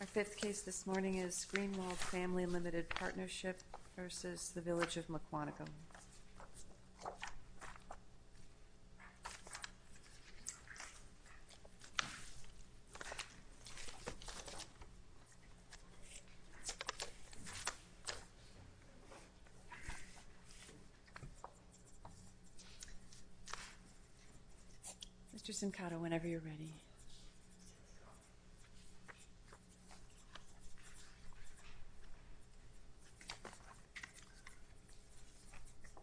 Our fifth case this morning is Greenwald Family Limited Partnership v. Village of Mukwonago. Mr. Simcato, whenever you're ready.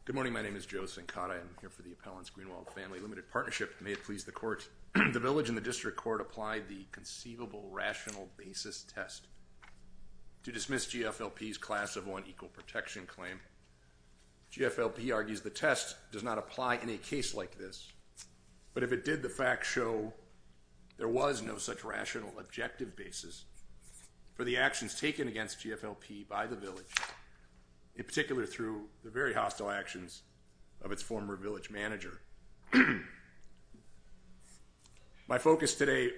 Good morning. My name is Joe Simcato. I'm here for the appellant's Greenwald Family Limited Partnership. May it please the court. The village and the district court applied the conceivable rational basis test to dismiss GFLP's class of one equal protection claim. GFLP argues the test does not apply in a case like this. But if it did, the facts show there was no such rational objective basis for the actions taken against GFLP by the village, in particular through the very hostile actions of its former village manager. My focus today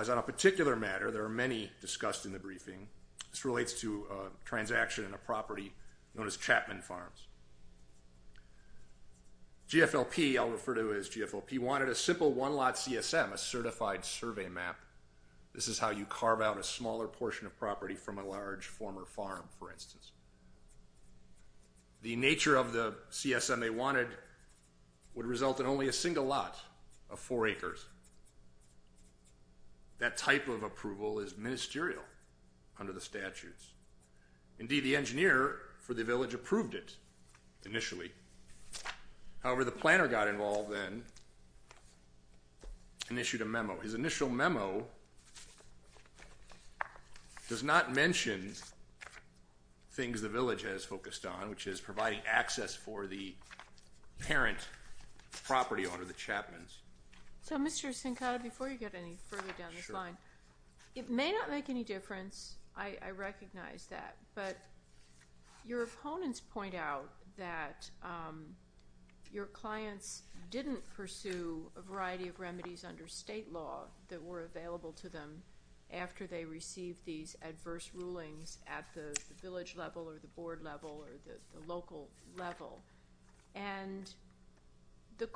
is on a particular matter. There are many discussed in the briefing. This relates to a transaction in a property known as Chapman Farms. GFLP, I'll refer to as GFLP, wanted a simple one lot CSM, a certified survey map. This is how you carve out a smaller portion of property from a large former farm, for instance. The nature of the CSM they wanted would result in only a single lot of four acres. That type of approval is ministerial under the statutes. Indeed, the engineer for the village approved it initially. However, the planner got involved then and issued a memo. His initial memo does not mention things the village has focused on, which is providing access for the parent property under the Chapman's. So, Mr. Sincada, before you get any further down this line, it may not make any difference. I recognize that. But your opponents point out that your clients didn't pursue a variety of remedies under state law that were available to them after they received these adverse rulings at the village level or the board level or the local level. And the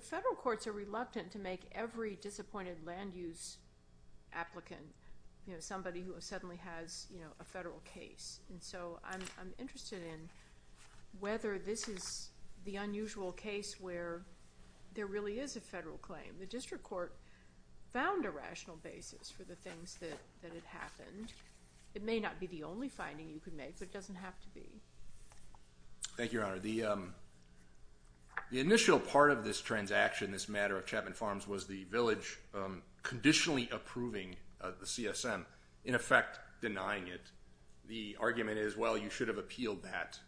federal courts are reluctant to make every disappointed land use applicant, you know, somebody who suddenly has a federal case. And so I'm interested in whether this is the unusual case where there really is a federal claim. The district court found a rational basis for the things that had happened. It may not be the only finding you could make, but it doesn't have to be. Thank you, Your Honor. The initial part of this transaction, this matter of Chapman Farms, was the village conditionally approving the CSM, in effect denying it. The argument is, well, you should have appealed that.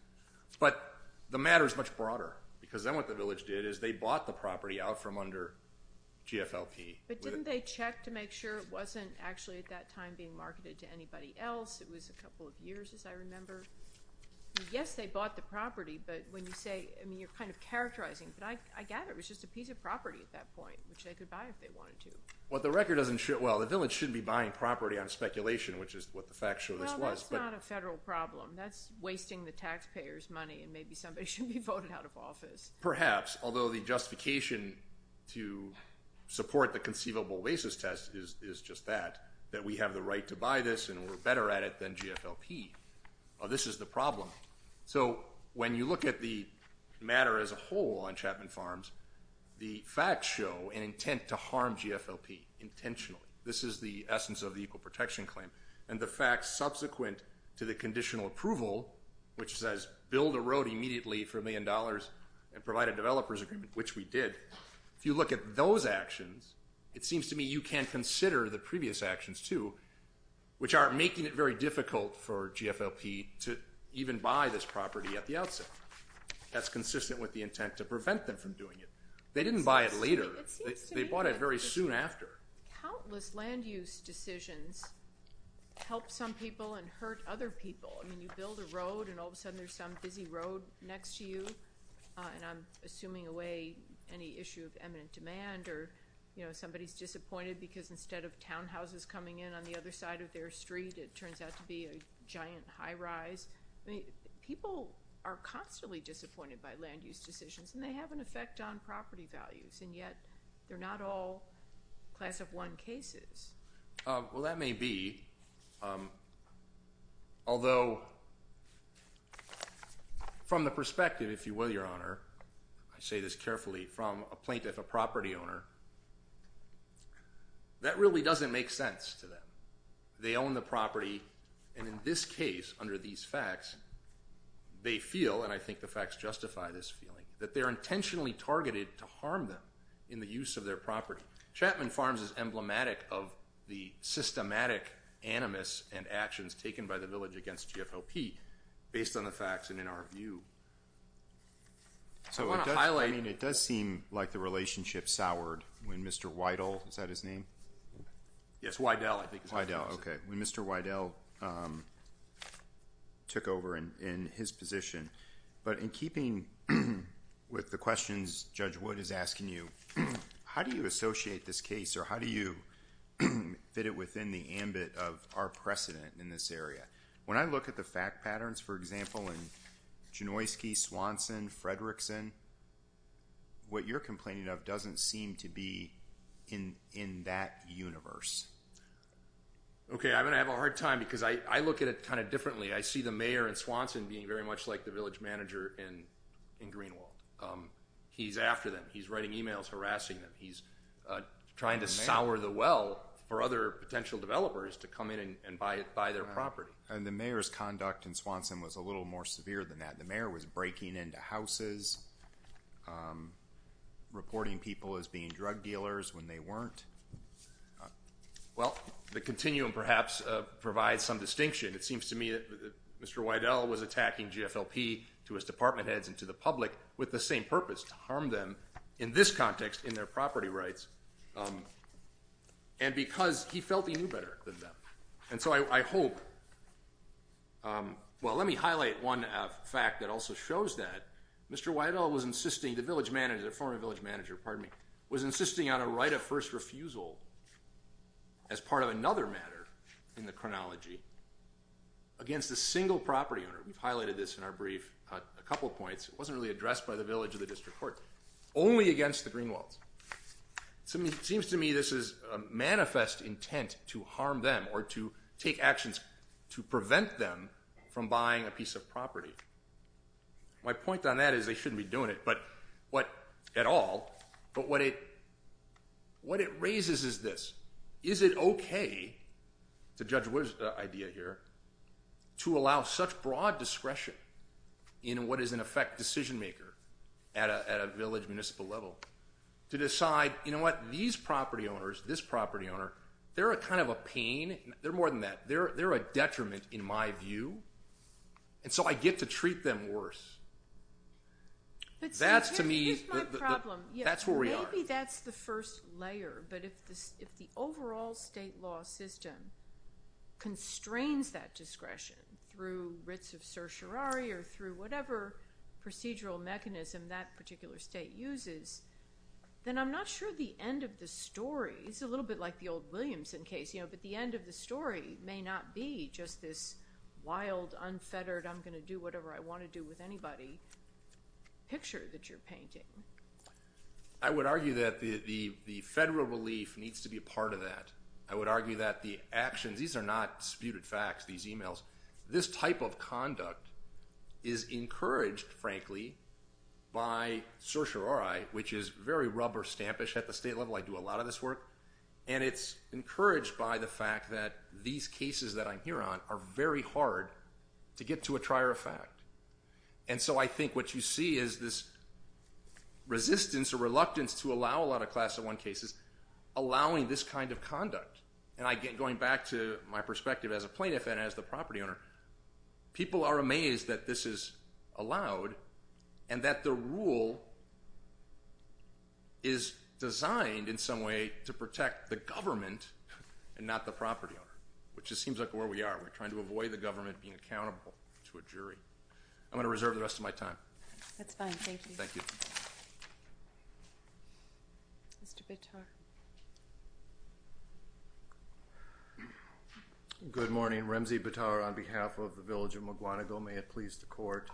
But the matter is much broader because then what the village did is they bought the property out from under GFLP. But didn't they check to make sure it wasn't actually at that time being marketed to anybody else? It was a couple of years, as I remember. Yes, they bought the property, but when you say, I mean, you're kind of characterizing it. But I get it. It was just a piece of property at that point, which they could buy if they wanted to. Well, the record doesn't show. Well, the village shouldn't be buying property on speculation, which is what the facts show this was. Well, that's not a federal problem. That's wasting the taxpayers' money, and maybe somebody should be voted out of office. Perhaps, although the justification to support the conceivable basis test is just that, that we have the right to buy this and we're better at it than GFLP. This is the problem. So when you look at the matter as a whole on Chapman Farms, the facts show an intent to harm GFLP intentionally. This is the essence of the Equal Protection Claim. And the facts subsequent to the conditional approval, which says build a road immediately for a million dollars and provide a developer's agreement, which we did, if you look at those actions, it seems to me you can consider the previous actions, too, which are making it very difficult for GFLP to even buy this property at the outset. That's consistent with the intent to prevent them from doing it. They didn't buy it later. They bought it very soon after. Countless land use decisions help some people and hurt other people. I mean, you build a road, and all of a sudden there's some busy road next to you, and I'm assuming away any issue of eminent demand or, you know, somebody's disappointed because instead of townhouses coming in on the other side of their street, it turns out to be a giant high rise. I mean, people are constantly disappointed by land use decisions, and they have an effect on property values, and yet they're not all class of one cases. Well, that may be, although from the perspective, if you will, Your Honor, I say this carefully, from a plaintiff, a property owner, that really doesn't make sense to them. They own the property, and in this case, under these facts, they feel, and I think the facts justify this feeling, that they're intentionally targeted to harm them in the use of their property. Chapman Farms is emblematic of the systematic animus and actions taken by the village against GFLP based on the facts and in our view. I want to highlight. I mean, it does seem like the relationship soured when Mr. Weidel, is that his name? Yes, Weidel, I think. Weidel, okay, when Mr. Weidel took over in his position. But in keeping with the questions Judge Wood is asking you, how do you associate this case, or how do you fit it within the ambit of our precedent in this area? When I look at the fact patterns, for example, in Janoski, Swanson, Fredrickson, what you're complaining of doesn't seem to be in that universe. Okay, I'm going to have a hard time because I look at it kind of differently. I see the mayor in Swanson being very much like the village manager in Greenwald. He's after them. He's writing emails harassing them. He's trying to sour the well for other potential developers to come in and buy their property. And the mayor's conduct in Swanson was a little more severe than that. The mayor was breaking into houses, reporting people as being drug dealers when they weren't. Well, the continuum perhaps provides some distinction. It seems to me that Mr. Weidel was attacking GFLP to his department heads and to the public with the same purpose, to harm them in this context in their property rights, and because he felt he knew better than them. And so I hope ñ well, let me highlight one fact that also shows that. Mr. Weidel was insisting, the village manager, the former village manager, pardon me, was insisting on a right of first refusal as part of another matter in the chronology against a single property owner. We've highlighted this in our brief a couple points. It wasn't really addressed by the village or the district court. Only against the Greenwells. It seems to me this is a manifest intent to harm them or to take actions to prevent them from buying a piece of property. My point on that is they shouldn't be doing it at all, but what it raises is this. It's a Judge Wood idea here. To allow such broad discretion in what is in effect decision-maker at a village, municipal level, to decide, you know what, these property owners, this property owner, they're a kind of a pain. They're more than that. They're a detriment in my view. And so I get to treat them worse. That's to me ñ That's my problem. That's where we are. Maybe that's the first layer, but if the overall state law system constrains that discretion through writs of certiorari or through whatever procedural mechanism that particular state uses, then I'm not sure the end of the story ñ it's a little bit like the old Williamson case, but the end of the story may not be just this wild, unfettered, I'm going to do whatever I want to do with anybody picture that you're painting. I would argue that the federal relief needs to be a part of that. I would argue that the actions ñ these are not disputed facts, these emails. This type of conduct is encouraged, frankly, by certiorari, which is very rubber-stampish at the state level. I do a lot of this work. And it's encouraged by the fact that these cases that I'm here on are very hard to get to a trier of fact. And so I think what you see is this resistance or reluctance to allow a lot of Class I cases, allowing this kind of conduct. And going back to my perspective as a plaintiff and as the property owner, people are amazed that this is allowed and that the rule is designed in some way to protect the government and not the property owner, which just seems like where we are. We're trying to avoid the government being accountable to a jury. I'm going to reserve the rest of my time. That's fine. Thank you. Thank you. Mr. Bitar. Good morning. Remzi Bitar on behalf of the Village of McGuanagill. May it please the Court.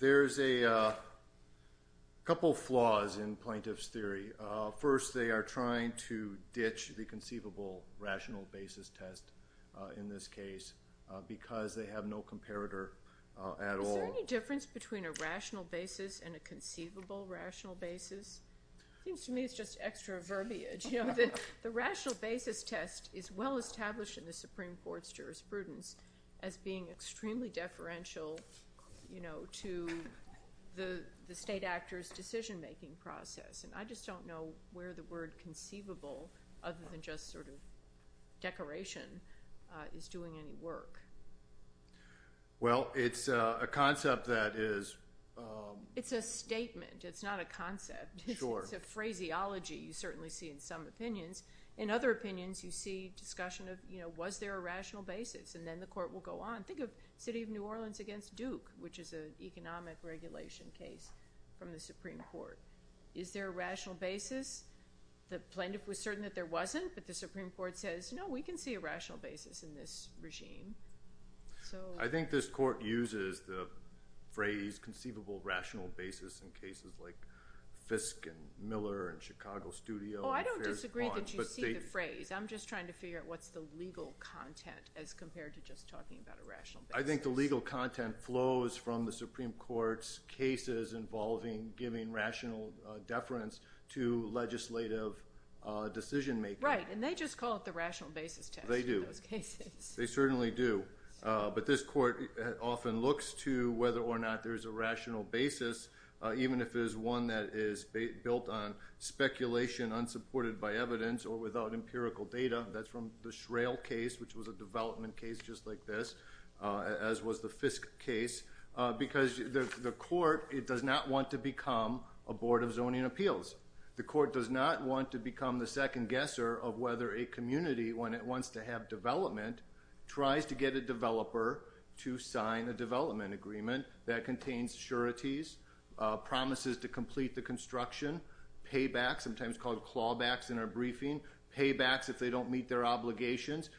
There's a couple of flaws in plaintiff's theory. First, they are trying to ditch the conceivable rational basis test in this case because they have no comparator at all. Is there any difference between a rational basis and a conceivable rational basis? It seems to me it's just extra verbiage. The rational basis test is well established in the Supreme Court's jurisprudence as being extremely deferential to the state actor's decision-making process. And I just don't know where the word conceivable, other than just sort of decoration, is doing any work. Well, it's a concept that is— It's a statement. It's not a concept. Sure. It's a phraseology you certainly see in some opinions. In other opinions, you see discussion of, you know, was there a rational basis? And then the Court will go on. Think of City of New Orleans against Duke, which is an economic regulation case from the Supreme Court. Is there a rational basis? The plaintiff was certain that there wasn't, but the Supreme Court says, no, we can see a rational basis in this regime. I think this Court uses the phrase conceivable rational basis in cases like Fisk and Miller and Chicago Studio. Oh, I don't disagree that you see the phrase. I'm just trying to figure out what's the legal content as compared to just talking about a rational basis. I think the legal content flows from the Supreme Court's cases involving giving rational deference to legislative decision-making. Right, and they just call it the rational basis test in those cases. They do. They certainly do. But this Court often looks to whether or not there's a rational basis, even if it is one that is built on speculation unsupported by evidence or without empirical data. That's from the Shrail case, which was a development case just like this, as was the Fisk case, because the Court, it does not want to become a board of zoning appeals. The Court does not want to become the second guesser of whether a community, when it wants to have development, tries to get a developer to sign a development agreement that contains sureties, promises to complete the construction, paybacks, sometimes called clawbacks in our briefing, paybacks if they don't meet their obligations.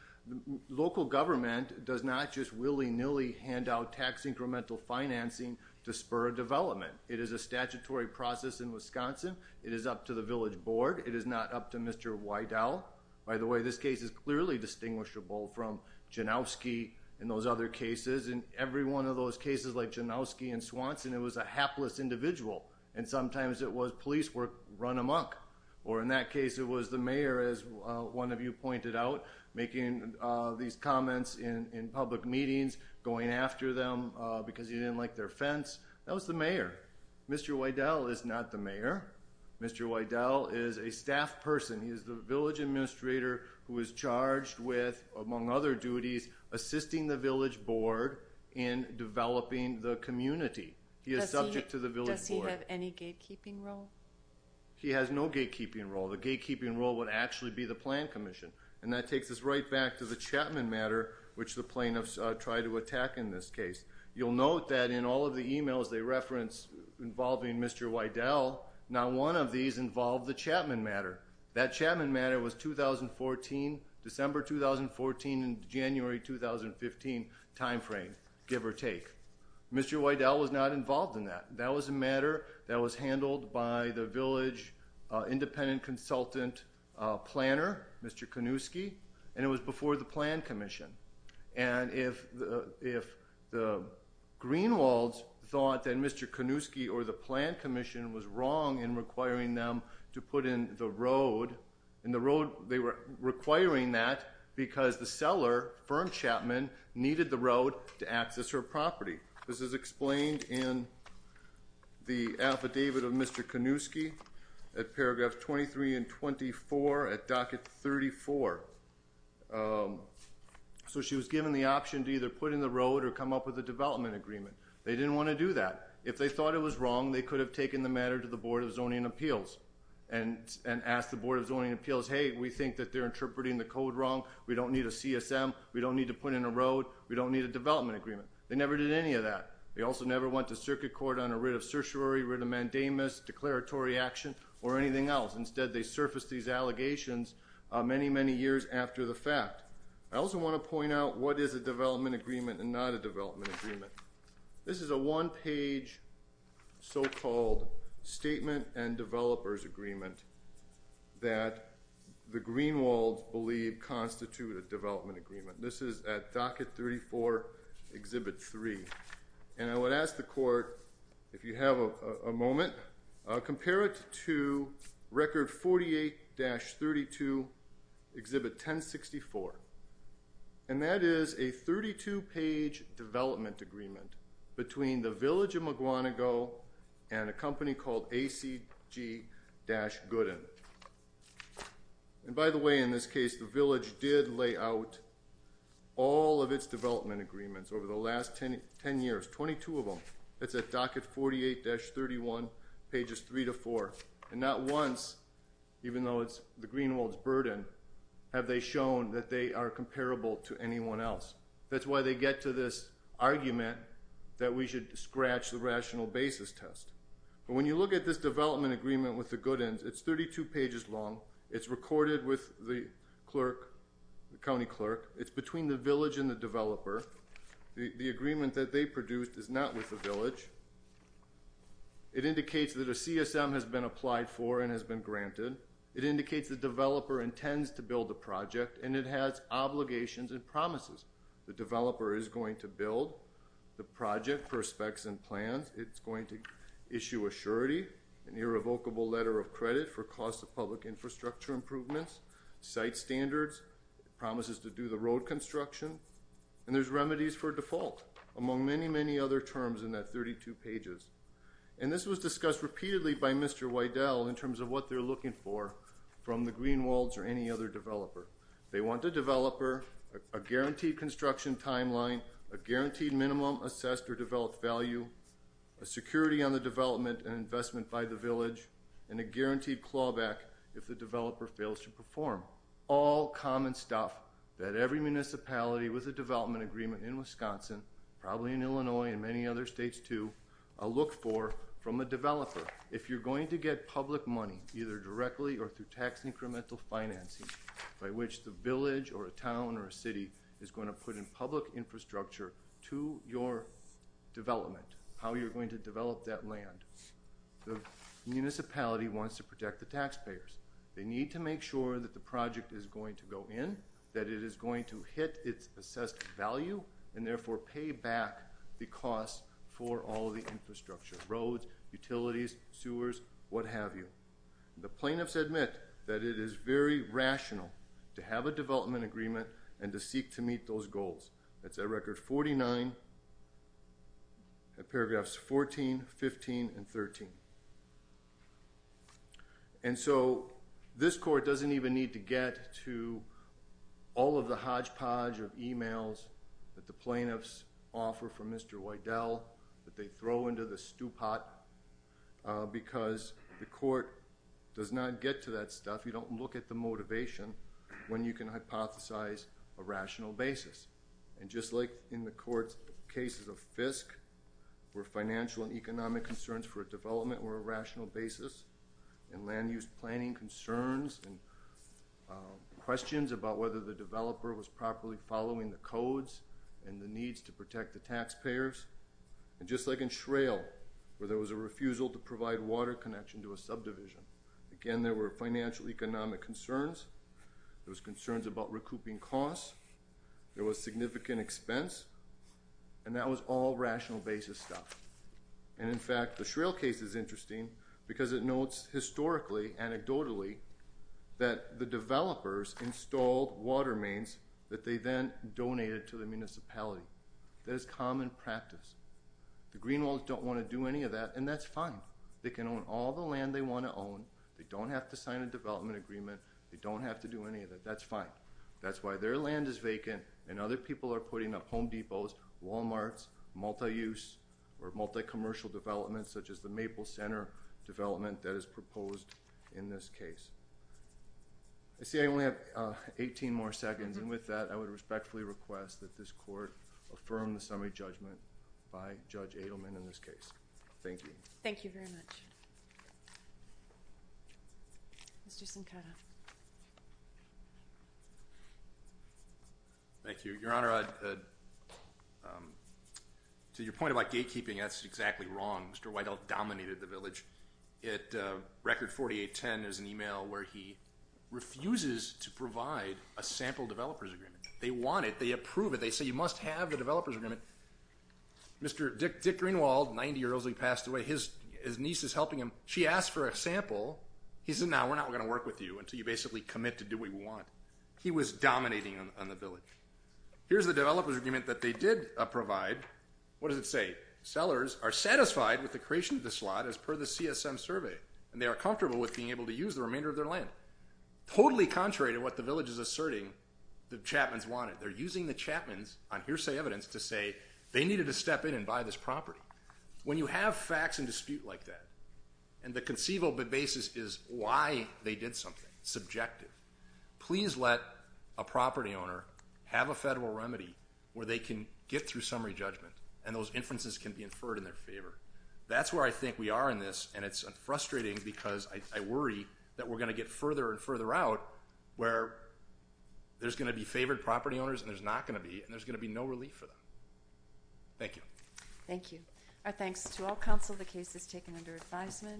Local government does not just willy-nilly hand out tax incremental financing to spur a development. It is a statutory process in Wisconsin. It is up to the village board. It is not up to Mr. Weidel. By the way, this case is clearly distinguishable from Janowski and those other cases. In every one of those cases, like Janowski and Swanson, it was a hapless individual. And sometimes it was police were run amok. Or in that case, it was the mayor, as one of you pointed out, making these comments in public meetings, going after them because he didn't like their fence. That was the mayor. Mr. Weidel is not the mayor. Mr. Weidel is a staff person. He is the village administrator who is charged with, among other duties, assisting the village board in developing the community. He is subject to the village board. Does he have any gatekeeping role? He has no gatekeeping role. The gatekeeping role would actually be the plan commission. And that takes us right back to the Chapman matter, which the plaintiffs tried to attack in this case. You'll note that in all of the emails they referenced involving Mr. Weidel, not one of these involved the Chapman matter. That Chapman matter was 2014, December 2014 and January 2015 timeframe, give or take. Mr. Weidel was not involved in that. That was a matter that was handled by the village independent consultant planner, Mr. Kanuski, and it was before the plan commission. And if the Greenwalds thought that Mr. Kanuski or the plan commission was wrong in requiring them to put in the road, they were requiring that because the seller, Fern Chapman, needed the road to access her property. This is explained in the affidavit of Mr. Kanuski at paragraph 23 and 24 at docket 34. So she was given the option to either put in the road or come up with a development agreement. They didn't want to do that. If they thought it was wrong, they could have taken the matter to the Board of Zoning Appeals and asked the Board of Zoning Appeals, hey, we think that they're interpreting the code wrong. We don't need a CSM. We don't need to put in a road. We don't need a development agreement. They never did any of that. They also never went to circuit court on a writ of certiorari, writ of mandamus, declaratory action, or anything else. Instead, they surfaced these allegations many, many years after the fact. I also want to point out what is a development agreement and not a development agreement. This is a one-page so-called statement and developer's agreement that the Greenwalds believe constitute a development agreement. This is at docket 34, Exhibit 3. And I would ask the court, if you have a moment, compare it to record 48-32, Exhibit 1064. And that is a 32-page development agreement between the village of Maguanago and a company called ACG-Gooden. And by the way, in this case, the village did lay out all of its development agreements over the last 10 years, 22 of them. It's at docket 48-31, pages 3 to 4. And not once, even though it's the Greenwalds' burden, have they shown that they are comparable to anyone else. That's why they get to this argument that we should scratch the rational basis test. But when you look at this development agreement with the Goodens, it's 32 pages long. It's recorded with the clerk, the county clerk. It's between the village and the developer. The agreement that they produced is not with the village. It indicates that a CSM has been applied for and has been granted. It indicates the developer intends to build the project, and it has obligations and promises. The developer is going to build the project for specs and plans. It's going to issue a surety, an irrevocable letter of credit for cost of public infrastructure improvements, site standards. It promises to do the road construction. And there's remedies for default, among many, many other terms in that 32 pages. And this was discussed repeatedly by Mr. Wiedel in terms of what they're looking for from the Greenwalds or any other developer. They want a developer, a guaranteed construction timeline, a guaranteed minimum assessed or developed value, a security on the development and investment by the village, and a guaranteed clawback if the developer fails to perform. All common stuff that every municipality with a development agreement in Wisconsin, probably in Illinois and many other states, too, look for from a developer. If you're going to get public money, either directly or through tax incremental financing, by which the village or a town or a city is going to put in public infrastructure to your development, how you're going to develop that land, the municipality wants to protect the taxpayers. They need to make sure that the project is going to go in, that it is going to hit its assessed value, and therefore pay back the costs for all of the infrastructure, roads, utilities, sewers, what have you. The plaintiffs admit that it is very rational to have a development agreement and to seek to meet those goals. That's at record 49, paragraphs 14, 15, and 13. And so this court doesn't even need to get to all of the hodgepodge of emails that the plaintiffs offer from Mr. Wydell, that they throw into the stew pot, because the court does not get to that stuff. You don't look at the motivation when you can hypothesize a rational basis. And just like in the court's cases of FISC, where financial and economic concerns for a development were a rational basis, and land use planning concerns and questions about whether the developer was properly following the codes and the needs to protect the taxpayers, and just like in Shrail, where there was a refusal to provide water connection to a subdivision, again, there were financial economic concerns, there was concerns about recouping costs, there was significant expense, and that was all rational basis stuff. And in fact, the Shrail case is interesting, because it notes historically, anecdotally, that the developers installed water mains that they then donated to the municipality. That is common practice. The Greenwalds don't want to do any of that, and that's fine. They can own all the land they want to own. They don't have to sign a development agreement. They don't have to do any of that. That's fine. That's why their land is vacant, and other people are putting up Home Depots, Walmarts, multi-use, or multi-commercial developments such as the Maple Center development that is proposed in this case. I see I only have 18 more seconds, and with that, I would respectfully request that this court affirm the summary judgment by Judge Adelman in this case. Thank you. Thank you very much. Mr. Sincada. Thank you. Your Honor, to your point about gatekeeping, that's exactly wrong. Mr. Weidel dominated the village. At Record 4810, there's an email where he refuses to provide a sample developer's agreement. They want it. They approve it. They say you must have the developer's agreement. Mr. Dick Greenwald, 90 years old, he passed away. His niece is helping him. She asked for a sample. He said, no, we're not going to work with you until you basically commit to doing what we want. He was dominating on the village. Here's the developer's agreement that they did provide. What does it say? Sellers are satisfied with the creation of the slot as per the CSM survey, and they are comfortable with being able to use the remainder of their land, totally contrary to what the village is asserting the Chapmans wanted. They're using the Chapmans on hearsay evidence to say they needed to step in and buy this property. When you have facts and dispute like that, and the conceivable basis is why they did something, subjective, please let a property owner have a federal remedy where they can get through summary judgment and those inferences can be inferred in their favor. That's where I think we are in this, and it's frustrating because I worry that we're going to get further and further out where there's going to be favored property owners and there's not going to be, and there's going to be no relief for them. Thank you. Thank you. Our thanks to all counsel. The case is taken under advisement.